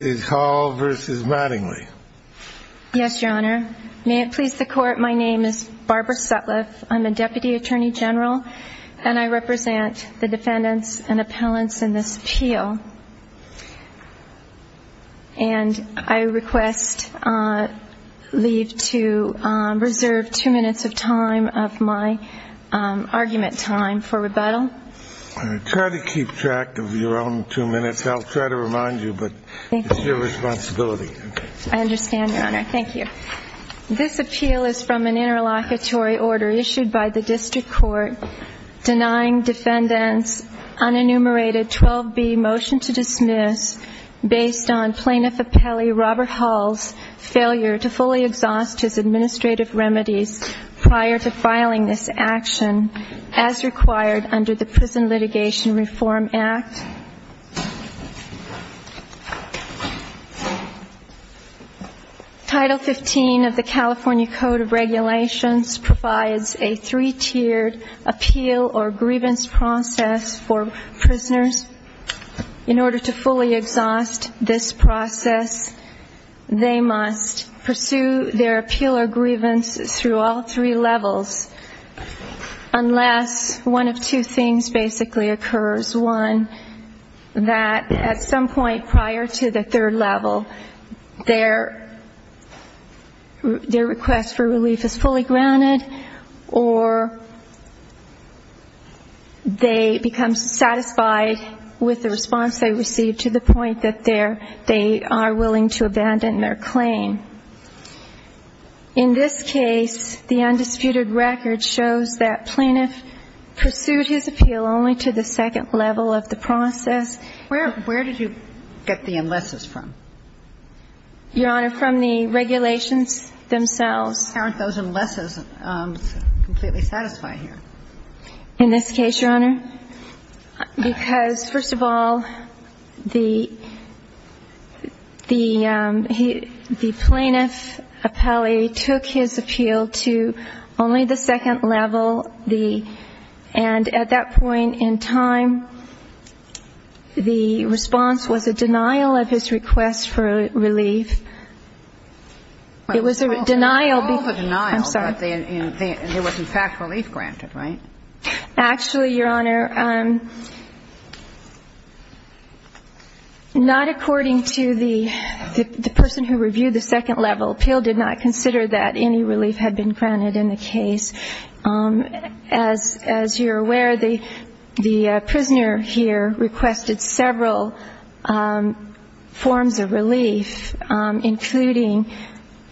Yes, Your Honor. May it please the Court, my name is Barbara Sutliff. I'm a Deputy Attorney General, and I represent the defendants and appellants in this appeal. And I request leave to reserve two minutes of time of my argument time for rebuttal. Try to keep track of your own two minutes. I'll try to remind you, but it's your responsibility. I understand, Your Honor. Thank you. This appeal is from an interlocutory order issued by the District Court denying defendants unenumerated 12B motion to dismiss based on Plaintiff Appellee Robert Hall's failure to fully exhaust his administrative remedies prior to filing this action as required under the Prison Litigation Reform Act. Title 15 of the California Code of Regulations provides a three-tiered appeal or grievance process for prisoners. In order to fully exhaust this process, they must pursue their appeal or grievance through all three levels, unless one of two things basically occurs. One is that at some point prior to the third level, their request for relief is fully granted, or they become satisfied with the response they receive to the point that they are willing to abandon their claim. In this case, the undisputed record shows that Plaintiff pursued his appeal only to the second level of the process. Where did you get the unlesses from? Your Honor, from the regulations themselves. How are those unlesses completely satisfied here? In this case, Your Honor, because, first of all, the Plaintiff Appellee took his appeal to only the second level. And at that point in time, the response was a denial of his request for relief. It was a denial. I'm sorry. But there was, in fact, relief granted, right? Actually, Your Honor, not according to the person who reviewed the second level. Appeal did not consider that any relief had been granted in the case. As you're aware, the prisoner here requested several forms of relief, including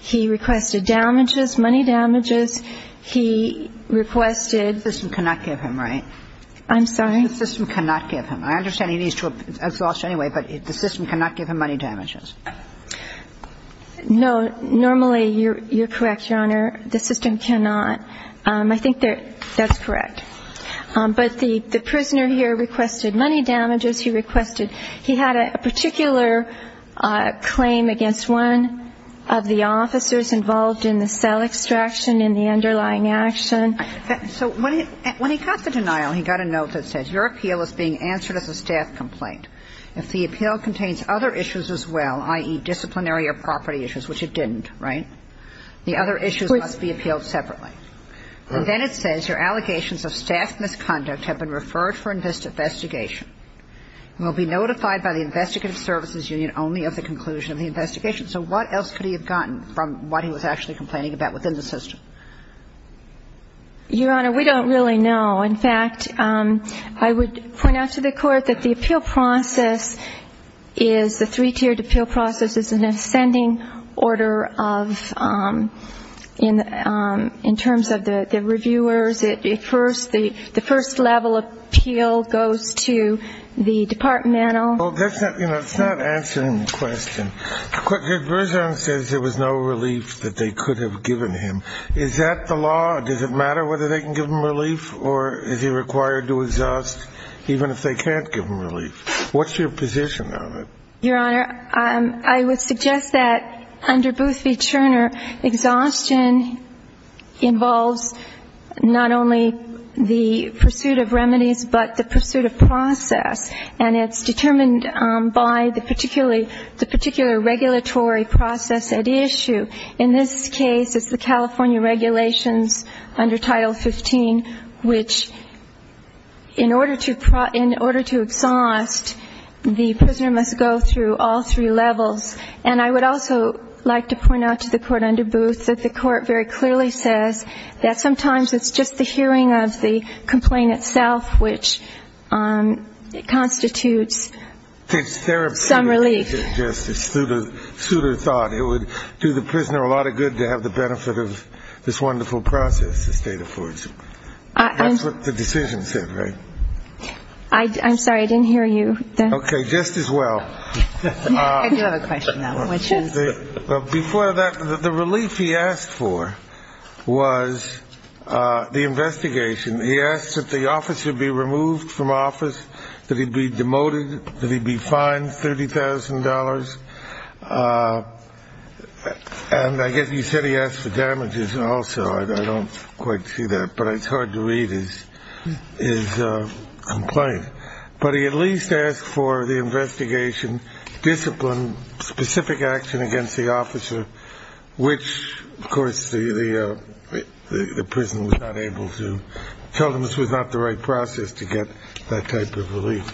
he requested damages, money damages. He requested ---- The system cannot give him, right? I'm sorry? The system cannot give him. I understand he needs to exhaust anyway, but the system cannot give him money damages. No. Normally, you're correct, Your Honor. The system cannot. I think that that's correct. But the prisoner here requested money damages. He requested ---- he had a particular claim against one of the officers involved in the cell extraction in the underlying action. So when he got the denial, he got a note that says, Your appeal is being answered as a staff complaint. If the appeal contains other issues as well, i.e., disciplinary or property issues, which it didn't, right? The other issues must be appealed separately. And then it says your allegations of staff misconduct have been referred for investigation and will be notified by the investigative services union only of the conclusion of the investigation. So what else could he have gotten from what he was actually complaining about within the system? Your Honor, we don't really know. In fact, I would point out to the Court that the appeal process is the three-tiered appeal process. It's an ascending order of ---- in terms of the reviewers. At first, the first level appeal goes to the departmental. Well, that's not ---- you know, it's not answering the question. The version says there was no relief that they could have given him. Is that the law? Does it matter whether they can give him relief or is he required to exhaust even if they can't give him relief? What's your position on it? Your Honor, I would suggest that under Boothby-Turner, exhaustion involves not only the pursuit of remedies but the pursuit of process. And it's determined by the particular regulatory process at issue. In this case, it's the California regulations under Title 15, which in order to exhaust, the prisoner must go through all three levels. And I would also like to point out to the Court under Booth that the Court very clearly says that sometimes it's just the hearing of the complaint itself which constitutes some relief. It's a suitor thought. It would do the prisoner a lot of good to have the benefit of this wonderful process the State affords him. That's what the decision said, right? I'm sorry, I didn't hear you. Okay, just as well. I do have a question, though, which is? Before that, the relief he asked for was the investigation. He asked that the officer be removed from office, that he be demoted, that he be fined $30,000. And I guess he said he asked for damages also. I don't quite see that, but it's hard to read his complaint. But he at least asked for the investigation, discipline, specific action against the officer, which, of course, the prison was not able to tell him this was not the right process to get that type of relief.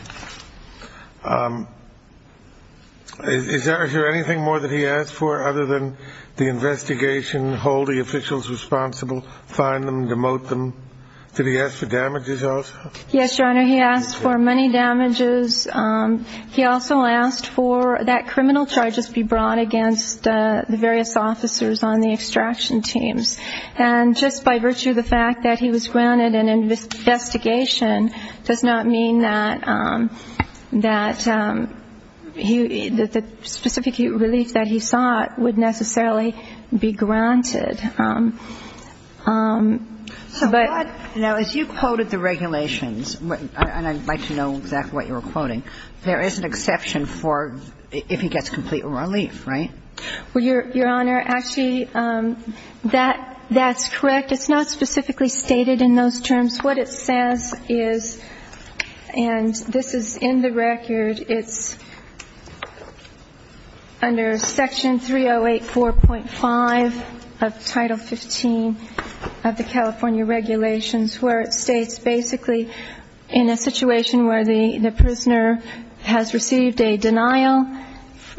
Is there anything more that he asked for other than the investigation, hold the officials responsible, fine them, demote them? Did he ask for damages also? Yes, Your Honor, he asked for many damages. He also asked for that criminal charges be brought against the various officers on the extraction teams. And just by virtue of the fact that he was granted an investigation does not mean that the specific relief that he sought would necessarily be granted. Now, as you quoted the regulations, and I'd like to know exactly what you were quoting, there is an exception for if he gets complete relief, right? Well, Your Honor, actually, that's correct. It's not specifically stated in those terms. What it says is, and this is in the record, it's under Section 308.4.5 of Title 15 of the California regulations, where it states basically in a situation where the prisoner has received a denial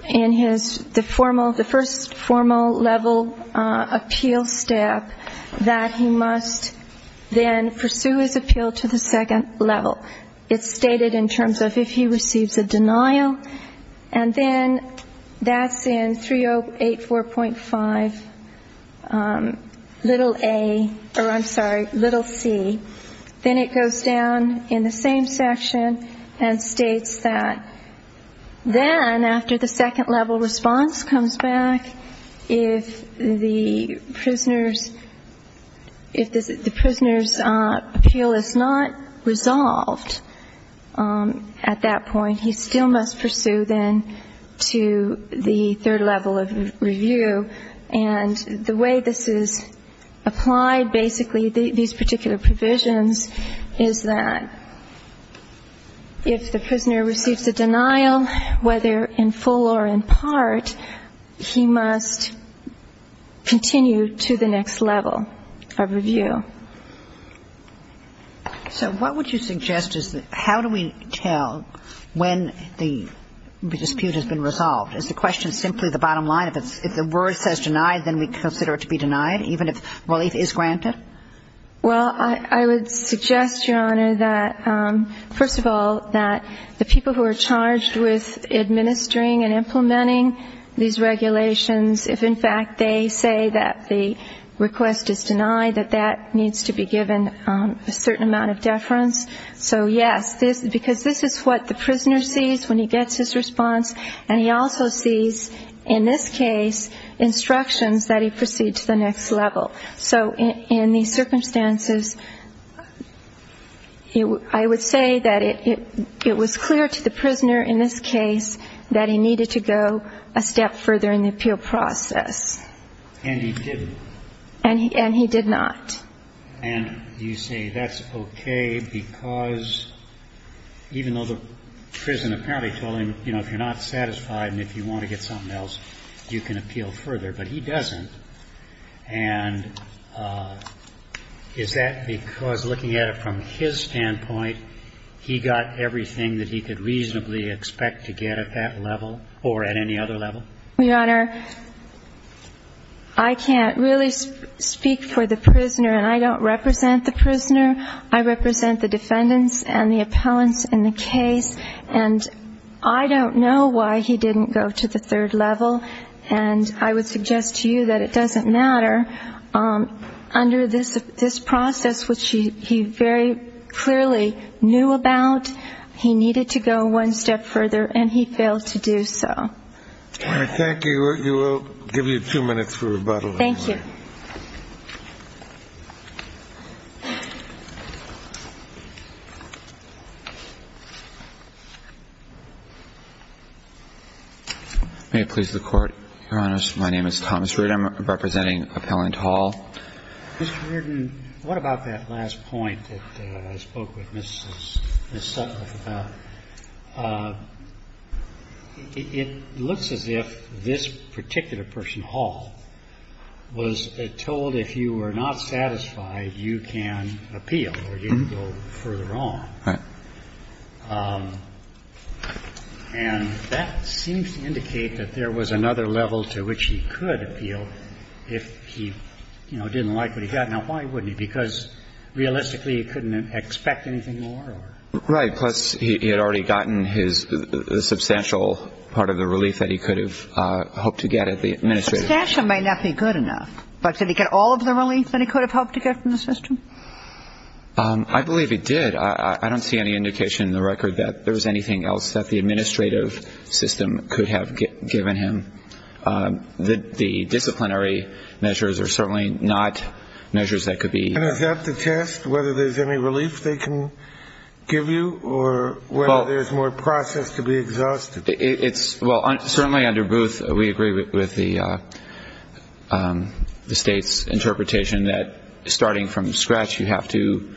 in the first formal level appeal step, that he must then pursue his appeal to the second level. It's stated in terms of if he receives a denial, and then that's in 308.4.5, little A, or I'm sorry, little C. Then it goes down in the same section and states that then after the second level response comes back, if the prisoner's appeal is not resolved at that point, he still must pursue then to the third level of review. And the way this is applied basically, these particular provisions, is that if the prisoner receives a denial, whether in full or in part, he must continue to the next level of review. So what would you suggest is how do we tell when the dispute has been resolved? Is the question simply the bottom line, if the word says denied, then we consider it to be denied, even if relief is granted? Well, I would suggest, Your Honor, that first of all, that the people who are charged with administering and implementing these regulations, if in fact they say that the request is denied, that that needs to be given a certain amount of deference. So yes, because this is what the prisoner sees when he gets his response, and he also sees in this case instructions that he proceed to the next level. So in these circumstances, I would say that it was clear to the prisoner in this case that he needed to go a step further in the appeal process. And he didn't. And he did not. And you say that's okay because even though the prison apparently told him, you know, if you're not satisfied and if you want to get something else, you can appeal further, but he doesn't. And is that because looking at it from his standpoint, he got everything that he could reasonably expect to get at that level or at any other level? Your Honor, I can't really speak for the prisoner, and I don't represent the prisoner. I represent the defendants and the appellants in the case. And I don't know why he didn't go to the third level. And I would suggest to you that it doesn't matter. Under this process, which he very clearly knew about, he needed to go one step further, and he failed to do so. Thank you. We will give you two minutes for rebuttal. Thank you. May it please the Court. Your Honors, my name is Thomas Reardon. I'm representing Appellant Hall. Mr. Reardon, what about that last point that I spoke with Ms. Sutcliffe about? It looks as if this particular person, Hall, was told if you were not satisfied, you can appeal or you can go further on. And that seems to indicate that there was another level to which he could appeal if he, you know, didn't like what he got. Now, why wouldn't he? Because, realistically, he couldn't expect anything more? Right. Plus, he had already gotten his substantial part of the relief that he could have hoped to get at the administrative level. Substantial might not be good enough, but did he get all of the relief that he could have hoped to get from the system? I believe he did. I don't see any indication in the record that there was anything else that the administrative system could have given him. The disciplinary measures are certainly not measures that could be used. And is that to test whether there's any relief they can give you or whether there's more process to be exhausted? Well, certainly under Booth, we agree with the state's interpretation that starting from scratch, you have to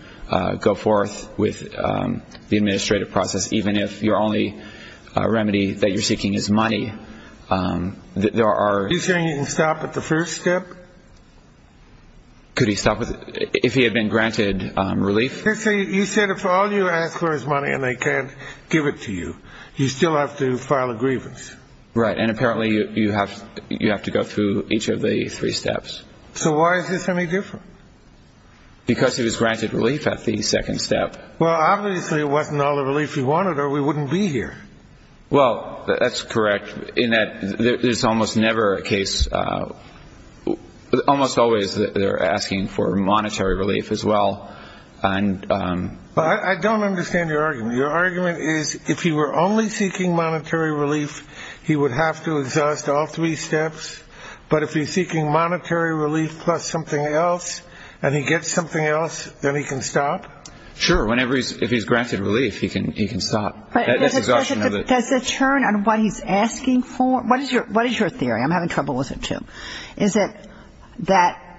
go forth with the administrative process even if your only remedy that you're seeking is money. Are you saying he can stop at the first step? Could he stop if he had been granted relief? You said if all you ask for is money and they can't give it to you, you still have to file a grievance. Right. And apparently you have to go through each of the three steps. So why is this any different? Because he was granted relief at the second step. Well, obviously it wasn't all the relief he wanted or we wouldn't be here. Well, that's correct in that there's almost never a case almost always they're asking for monetary relief as well. I don't understand your argument. Your argument is if he were only seeking monetary relief, he would have to exhaust all three steps. But if he's seeking monetary relief plus something else and he gets something else, then he can stop? Sure. If he's granted relief, he can stop. But does it turn on what he's asking for? I'm having trouble with it, too. Is it that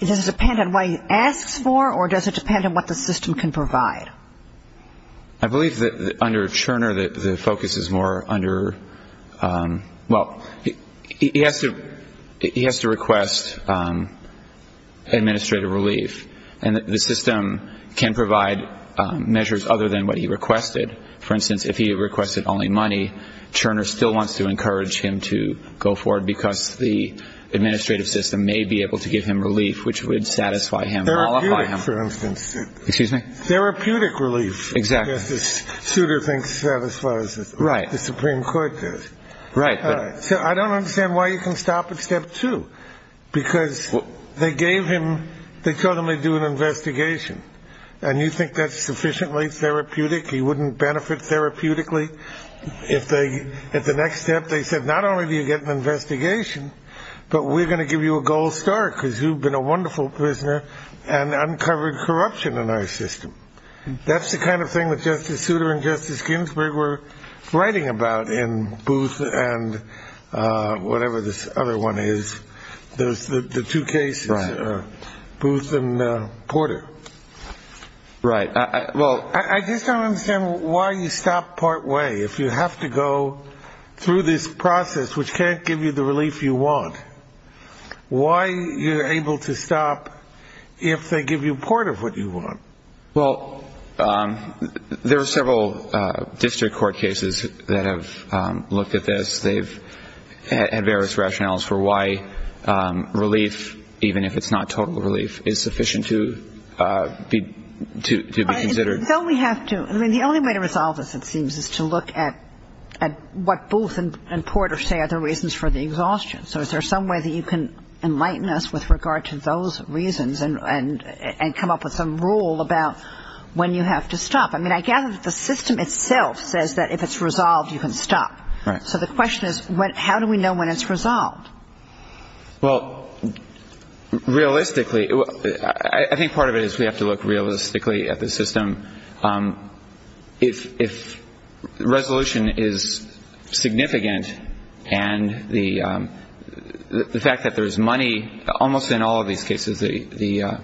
it doesn't depend on what he asks for or does it depend on what the system can provide? I believe that under Cherner the focus is more under, well, he has to request administrative relief. And the system can provide measures other than what he requested. For instance, if he requested only money, Cherner still wants to encourage him to go forward because the administrative system may be able to give him relief, which would satisfy him. For instance, excuse me. Therapeutic relief. Exactly. This suitor thinks that as far as the Supreme Court does. Right. So I don't understand why you can stop at step two, because they gave him they told him to do an investigation. And you think that's sufficiently therapeutic? He wouldn't benefit therapeutically if they at the next step. They said, not only do you get an investigation, but we're going to give you a gold star because you've been a wonderful prisoner and uncovered corruption in our system. That's the kind of thing that Justice Souter and Justice Ginsburg were writing about in Booth and whatever this other one is. There's the two cases, Booth and Porter. Right. Well, I just don't understand why you stop part way if you have to go through this process, which can't give you the relief you want. Why you're able to stop if they give you part of what you want? Well, there are several district court cases that have looked at this. They've had various rationales for why relief, even if it's not total relief, is sufficient to be considered. Don't we have to? I mean, the only way to resolve this, it seems, is to look at what Booth and Porter say are the reasons for the exhaustion. So is there some way that you can enlighten us with regard to those reasons and come up with some rule about when you have to stop? I mean, I gather that the system itself says that if it's resolved, you can stop. Right. So the question is, how do we know when it's resolved? Well, realistically, I think part of it is we have to look realistically at the system. If resolution is significant and the fact that there's money, almost in all of these cases the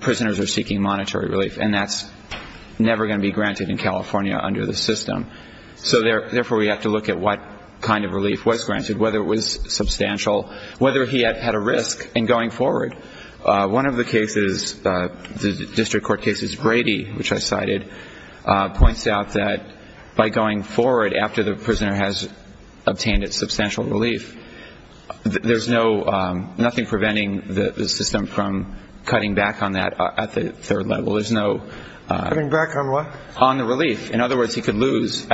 prisoners are seeking monetary relief, and that's never going to be granted in California under the system. So therefore we have to look at what kind of relief was granted, whether it was substantial, whether he had a risk in going forward. One of the cases, the district court cases Brady, which I cited, points out that by going forward after the prisoner has obtained its substantial relief, there's nothing preventing the system from cutting back on that at the third level. Cutting back on what? On the relief. In other words, he could lose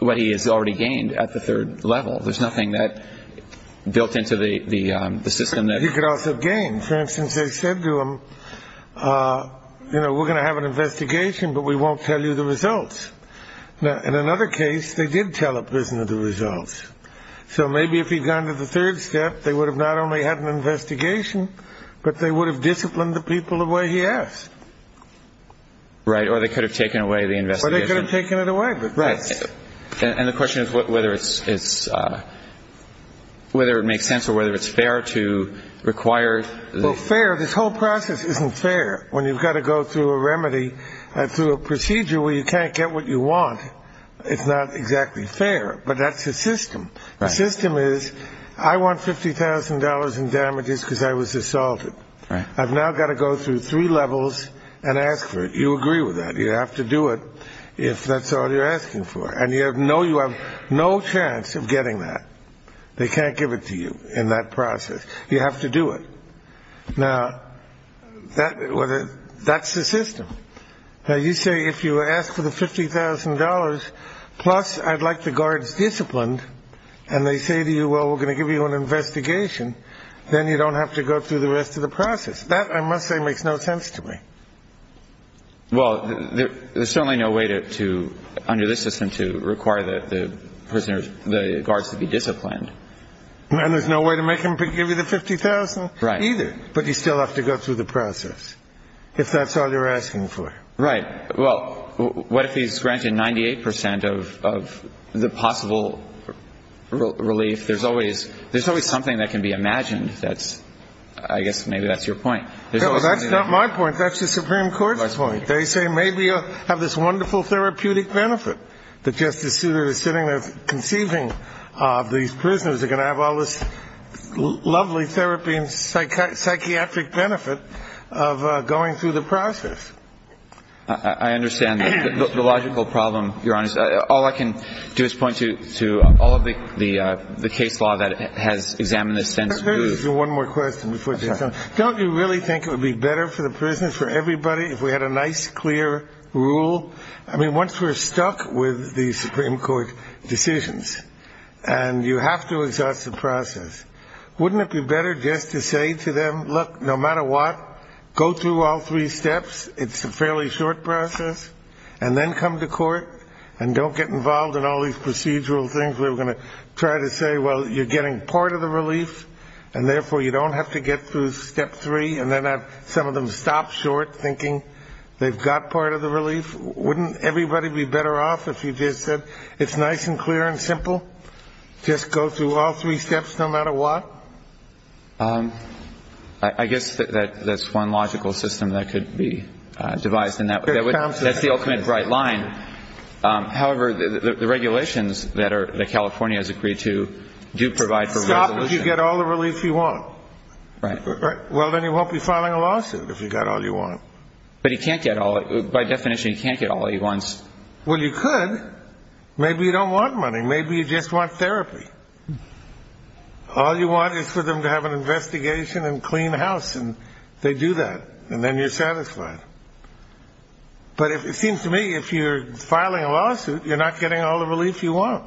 what he has already gained at the third level. There's nothing that built into the system. He could also gain. For instance, they said to him, you know, we're going to have an investigation, but we won't tell you the results. Now, in another case, they did tell a prisoner the results. So maybe if he'd gone to the third step, they would have not only had an investigation, but they would have disciplined the people the way he asked. Right. Or they could have taken away the investigation. Or they could have taken it away. Right. And the question is whether it makes sense or whether it's fair to require. Well, fair. This whole process isn't fair when you've got to go through a remedy, through a procedure where you can't get what you want. It's not exactly fair. But that's the system. The system is I want $50,000 in damages because I was assaulted. I've now got to go through three levels and ask for it. You agree with that. You have to do it if that's all you're asking for. And you know you have no chance of getting that. They can't give it to you in that process. You have to do it. Now, that's the system. Now, you say if you ask for the $50,000 plus I'd like the guards disciplined and they say to you, well, we're going to give you an investigation, then you don't have to go through the rest of the process. That, I must say, makes no sense to me. Well, there's certainly no way under this system to require the guards to be disciplined. And there's no way to make them give you the $50,000 either. Right. But you still have to go through the process if that's all you're asking for. Right. Well, what if he's granted 98% of the possible relief? There's always something that can be imagined. I guess maybe that's your point. No, that's not my point. That's the Supreme Court's point. That's my point. They say maybe you'll have this wonderful therapeutic benefit that Justice Souter is sitting there conceiving of these prisoners. They're going to have all this lovely therapy and psychiatric benefit of going through the process. I understand the logical problem, Your Honor. All I can do is point to all of the case law that has examined this sense of relief. Let me ask you one more question before we get going. Don't you really think it would be better for the prisoners, for everybody, if we had a nice, clear rule? I mean, once we're stuck with the Supreme Court decisions and you have to exhaust the process, wouldn't it be better just to say to them, look, no matter what, go through all three steps. It's a fairly short process. And then come to court and don't get involved in all these procedural things. We're going to try to say, well, you're getting part of the relief, and therefore you don't have to get through step three, and then have some of them stop short thinking they've got part of the relief. Wouldn't everybody be better off if you just said it's nice and clear and simple, just go through all three steps no matter what? I guess that's one logical system that could be devised. That's the ultimate right line. However, the regulations that California has agreed to do provide for resolution. Unless you get all the relief you want. Right. Well, then you won't be filing a lawsuit if you got all you want. But you can't get all. By definition, you can't get all he wants. Well, you could. Maybe you don't want money. Maybe you just want therapy. All you want is for them to have an investigation and clean house, and they do that, and then you're satisfied. But it seems to me if you're filing a lawsuit, you're not getting all the relief you want.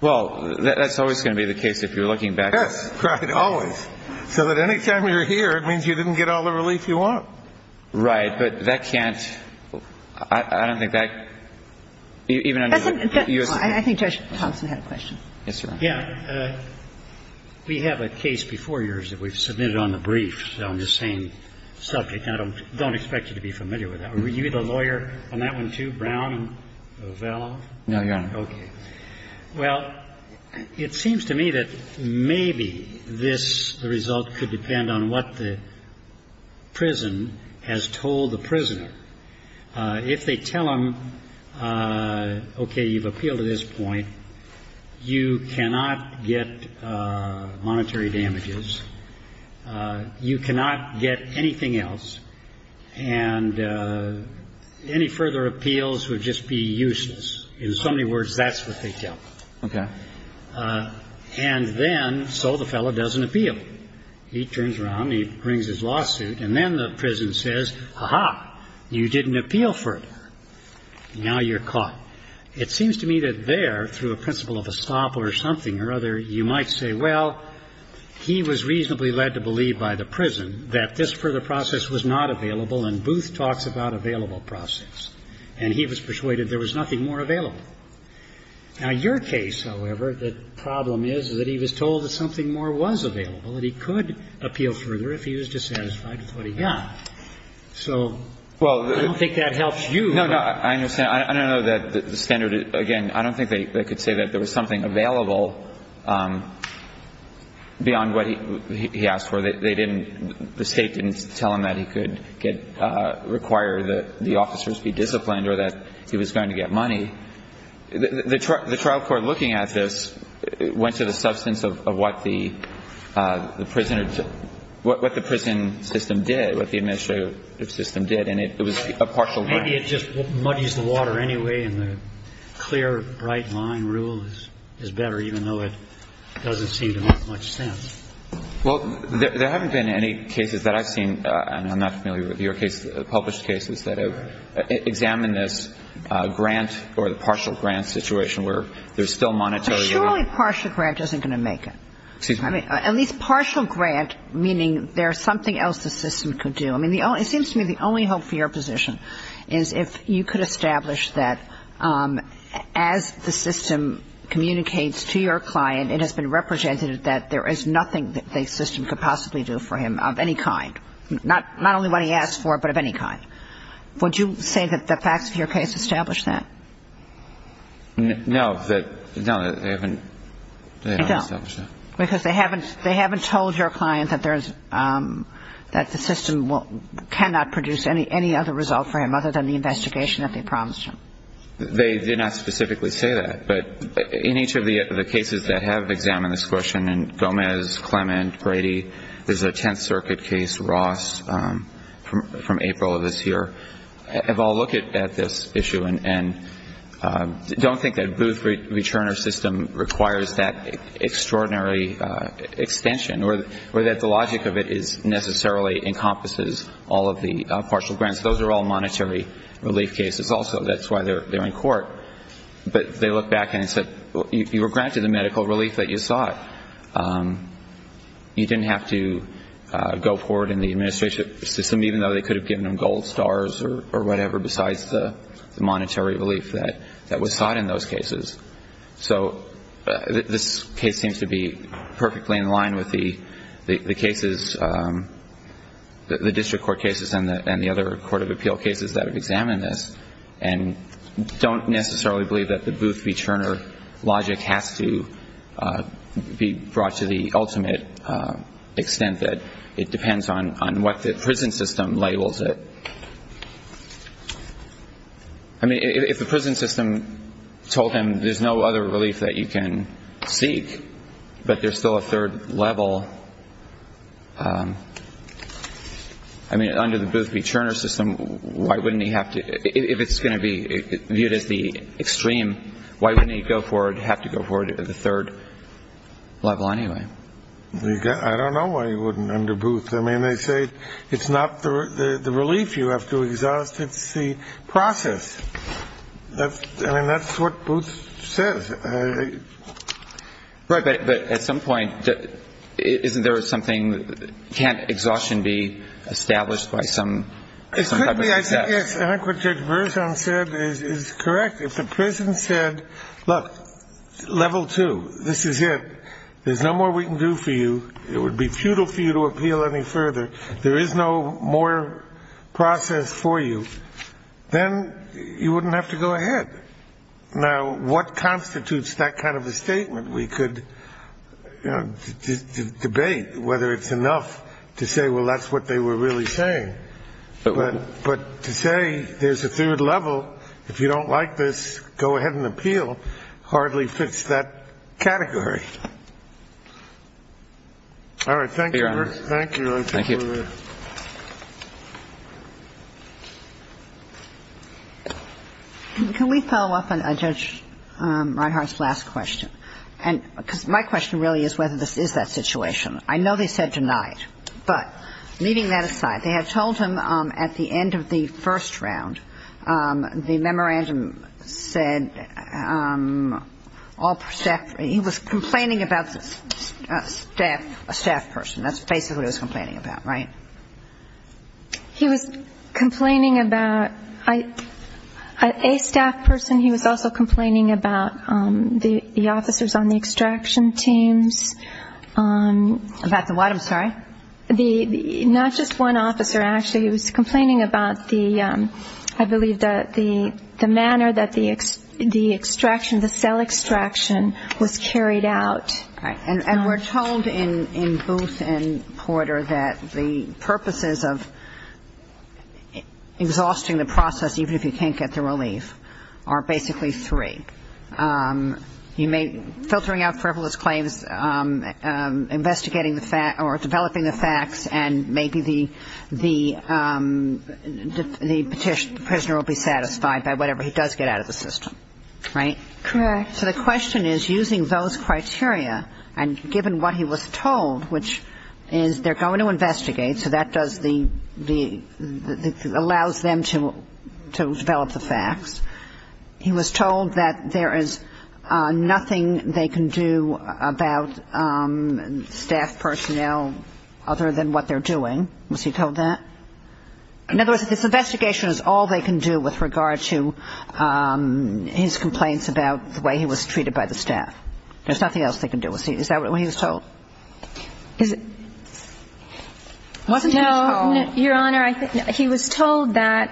Well, that's always going to be the case if you're looking back. That's right. Always. So that any time you're here, it means you didn't get all the relief you want. Right. But that can't – I don't think that – even under the U.S. I think Judge Thompson had a question. Yes, Your Honor. Yeah. We have a case before yours that we've submitted on the brief, so I'm just saying subject. I don't expect you to be familiar with that. Were you the lawyer on that one, too, Brown and Ovello? No, Your Honor. Okay. Well, it seems to me that maybe this result could depend on what the prison has told the prisoner. If they tell him, okay, you've appealed to this point, you cannot get monetary damages, you cannot get anything else, and any further appeals would just be useless. In so many words, that's what they tell him. Okay. And then so the fellow doesn't appeal. He turns around and he brings his lawsuit, and then the prison says, ha-ha, you didn't appeal further. Now you're caught. It seems to me that there, through a principle of estoppel or something or other, you might say, well, he was reasonably led to believe by the prison that this further process was not available, and Booth talks about available process. And he was persuaded there was nothing more available. Now, your case, however, the problem is that he was told that something more was available and he could appeal further if he was dissatisfied with what he got. So I don't think that helps you. No, no. I understand. I don't know that the standard, again, I don't think they could say that there was something available beyond what he asked for. They didn't, the State didn't tell him that he could get, require that the officers be disciplined or that he was going to get money. The trial court looking at this went to the substance of what the prisoner, what the prison system did, what the administrative system did, and it was a partial. So maybe it just muddies the water anyway and the clear, bright line rule is better, even though it doesn't seem to make much sense. Well, there haven't been any cases that I've seen, and I'm not familiar with your case, published cases that have examined this grant or the partial grant situation where there's still monetary. Surely partial grant isn't going to make it. I mean, at least partial grant, meaning there's something else the system could do. I mean, it seems to me the only hope for your position is if you could establish that as the system communicates to your client it has been represented that there is nothing that the system could possibly do for him of any kind, not only what he asked for, but of any kind. Would you say that the facts of your case establish that? No. No, they haven't. They haven't established that. That the system cannot produce any other result for him other than the investigation that they promised him. They did not specifically say that, but in each of the cases that have examined this question, in Gomez, Clement, Brady, there's a Tenth Circuit case, Ross, from April of this year. If I'll look at this issue and don't think that Booth-Returner system requires that extraordinary extension or that the logic of it necessarily encompasses all of the partial grants, those are all monetary relief cases also. That's why they're in court. But they look back and say, you were granted the medical relief that you sought. You didn't have to go forward in the administration system, even though they could have given him gold stars or whatever besides the monetary relief that was sought in those cases. So this case seems to be perfectly in line with the cases, the district court cases and the other court of appeal cases that have examined this and don't necessarily believe that the Booth-Returner logic has to be brought to the ultimate extent that it depends on what the prison system labels it. I mean, if the prison system told him there's no other relief that you can seek, but there's still a third level, I mean, under the Booth-Returner system, why wouldn't he have to, if it's going to be viewed as the extreme, why wouldn't he go forward, have to go forward to the third level anyway? I don't know why he wouldn't under Booth. I mean, they say it's not the relief you have to exhaust, it's the process. I mean, that's what Booth says. Right. But at some point, isn't there something, can't exhaustion be established by some type of success? Yes. I think what Judge Berzon said is correct. If the prison said, look, level two, this is it. There's no more we can do for you. It would be futile for you to appeal any further. There is no more process for you. Then you wouldn't have to go ahead. Now, what constitutes that kind of a statement? We could debate whether it's enough to say, well, that's what they were really saying. But to say there's a third level, if you don't like this, go ahead and appeal, hardly fits that category. All right. Thank you. Thank you. Thank you. Can we follow up on Judge Reinhart's last question? Because my question really is whether this is that situation. I know they said denied. But leaving that aside, they had told him at the end of the first round, the memorandum said all staff, he was complaining about a staff person. That's basically what he was complaining about, right? He was complaining about a staff person. He was also complaining about the officers on the extraction teams. About the what, I'm sorry? Not just one officer, actually. He was complaining about the, I believe, the manner that the extraction, the cell extraction was carried out. Right. And we're told in Booth and Porter that the purposes of exhausting the process, even if you can't get the relief, are basically three. Filtering out frivolous claims, investigating the facts, or developing the facts, and maybe the prisoner will be satisfied by whatever he does get out of the system. Right? Correct. So the question is, using those criteria, and given what he was told, which is they're going to investigate, so that does the, allows them to develop the facts. He was told that there is nothing they can do about staff personnel other than what they're doing. Was he told that? In other words, this investigation is all they can do with regard to his complaints about the way he was treated by the staff. There's nothing else they can do. Is that what he was told? Wasn't he told? No, Your Honor. He was told that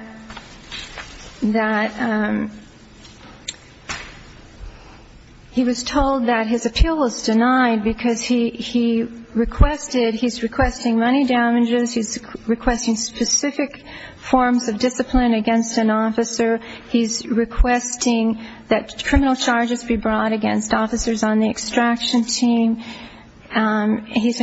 his appeal was denied because he requested, he's requesting money damages, he's requesting specific forms of discipline against an officer, he's requesting that criminal charges be brought against officers on the extraction team, he's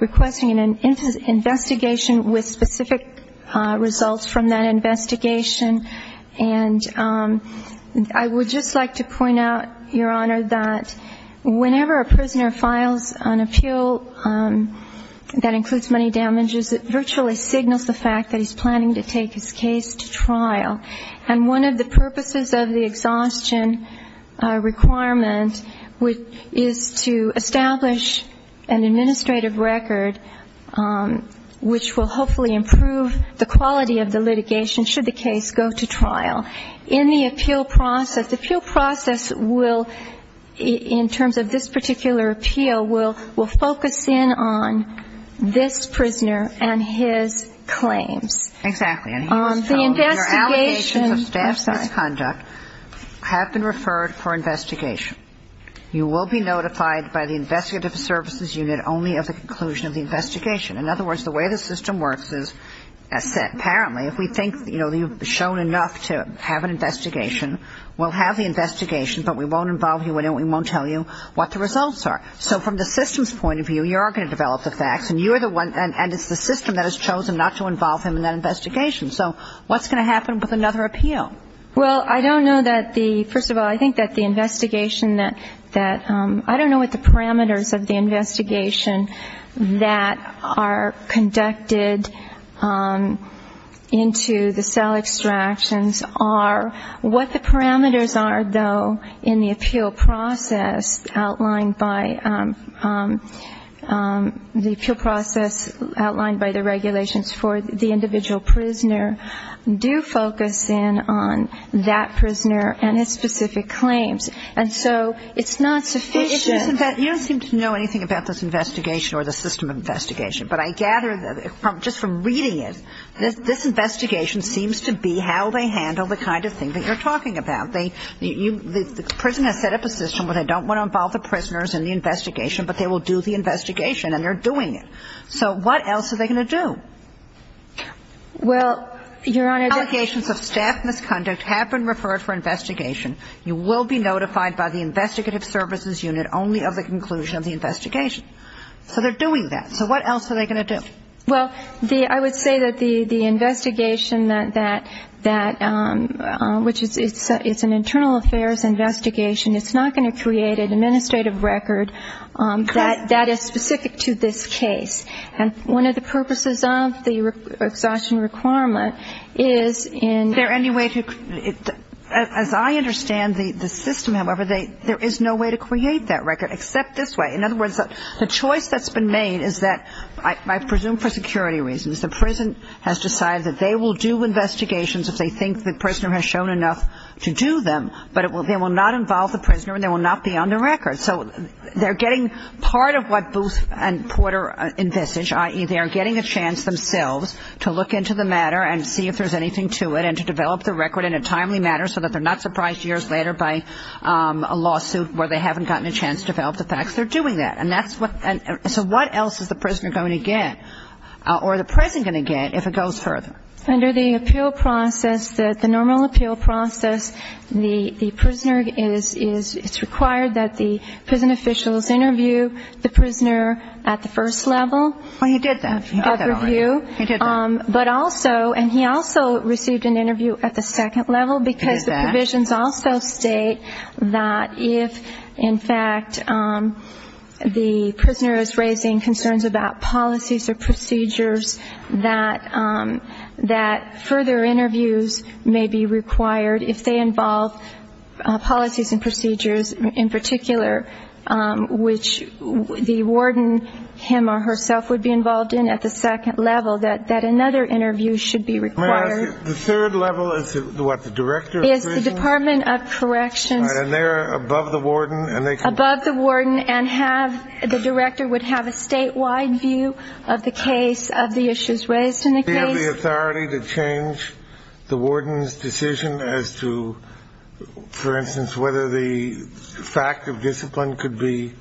requesting an investigation with specific results from that investigation, and I would just like to point out, Your Honor, that whenever a prisoner files an appeal that includes money damages, it virtually signals the fact that he's planning to take his case to trial. And one of the purposes of the exhaustion requirement is to establish an administrative record, which will hopefully improve the quality of the litigation should the case go to trial. In the appeal process, the appeal process will, in terms of this particular appeal, will focus in on this prisoner and his claims. Exactly. And he was told, your allegations of staff misconduct have been referred for investigation. You will be notified by the investigative services unit only of the conclusion of the investigation. In other words, the way the system works is as set. Apparently, if we think, you know, you've shown enough to have an investigation, we'll have the investigation, but we won't involve you in it, we won't tell you what the results are. So from the system's point of view, you are going to develop the facts, and you are the one, and it's the system that has chosen not to involve him in that investigation. So what's going to happen with another appeal? Well, I don't know that the, first of all, I think that the investigation that, I don't know what the parameters of the investigation that are conducted into the cell extractions are. What the parameters are, though, in the appeal process outlined by, the appeal process outlined by the regulations for the individual prisoner, do focus in on that prisoner and his specific claims. And so it's not sufficient. You don't seem to know anything about this investigation or the system investigation. But I gather, just from reading it, this investigation seems to be how they handle the kind of thing that you're talking about. The prison has set up a system where they don't want to involve the prisoners in the investigation, but they will do the investigation, and they're doing it. So what else are they going to do? Well, Your Honor, the allegations of staff misconduct have been referred for investigation. You will be notified by the investigative services unit only of the conclusion of the investigation. So they're doing that. So what else are they going to do? Well, I would say that the investigation that, which is an internal affairs investigation, it's not going to create an administrative record that is specific to this case. And one of the purposes of the exhaustion requirement is in the ---- Is there any way to, as I understand the system, however, there is no way to create that record except this way. In other words, the choice that's been made is that, I presume for security reasons, the prison has decided that they will do investigations if they think the prisoner has shown enough to do them, but they will not involve the prisoner and they will not be on the record. So they're getting part of what Booth and Porter envisage, i.e., they are getting a chance themselves to look into the matter and see if there's anything to it and to develop the record in a timely manner so that they're not surprised years later by a lawsuit where they haven't gotten a chance to develop the facts. They're doing that. And that's what ---- so what else is the prisoner going to get or the prison going to get if it goes further? Under the appeal process, the normal appeal process, the prisoner is ---- it's required that the prison officials interview the prisoner at the first level. Well, he did that. He did that already. Of review. He did that. But also, and he also received an interview at the second level because the provisions also state that if, in fact, the prisoner is raising concerns about policies or procedures, that further interviews may be required if they involve policies and procedures in particular, which the warden, him or herself, would be involved in at the second level, that another interview should be required. May I ask, the third level is what, the director of the prison? The Department of Corrections. And they're above the warden and they can ---- Above the warden and have, the director would have a statewide view of the case, of the issues raised in the case. Do they have the authority to change the warden's decision as to, for instance, whether the fact of discipline could be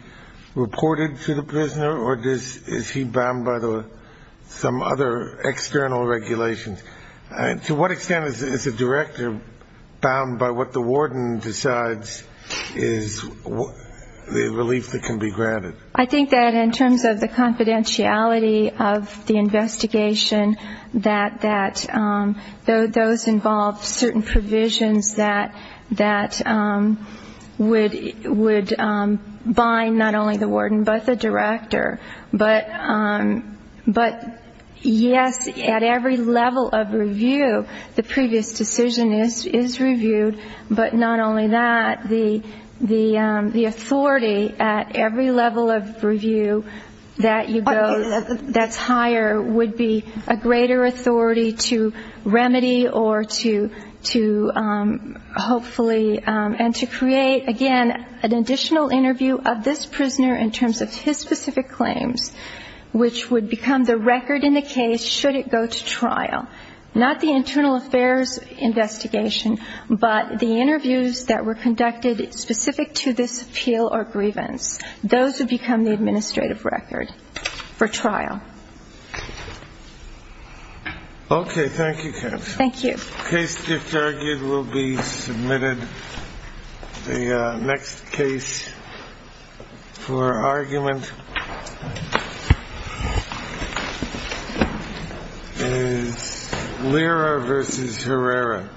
reported to the prisoner or is he bound by some other external regulations? To what extent is the director bound by what the warden decides is the relief that can be granted? I think that in terms of the confidentiality of the investigation, that those involve certain provisions that would bind not only the warden but the director. But, yes, at every level of review, the previous decision is reviewed, but not only that, the authority at every level of review that you go, that's higher, would be a greater authority to remedy or to hopefully, and to create, again, an additional interview of this prisoner in terms of his specific claims, which would become the record in the case should it go to trial. Not the internal affairs investigation, but the interviews that were conducted specific to this appeal or grievance. Those would become the administrative record for trial. Okay. Thank you, Counsel. Thank you. The case disargued will be submitted. The next case for argument is Lira v. Herrera. Thank you.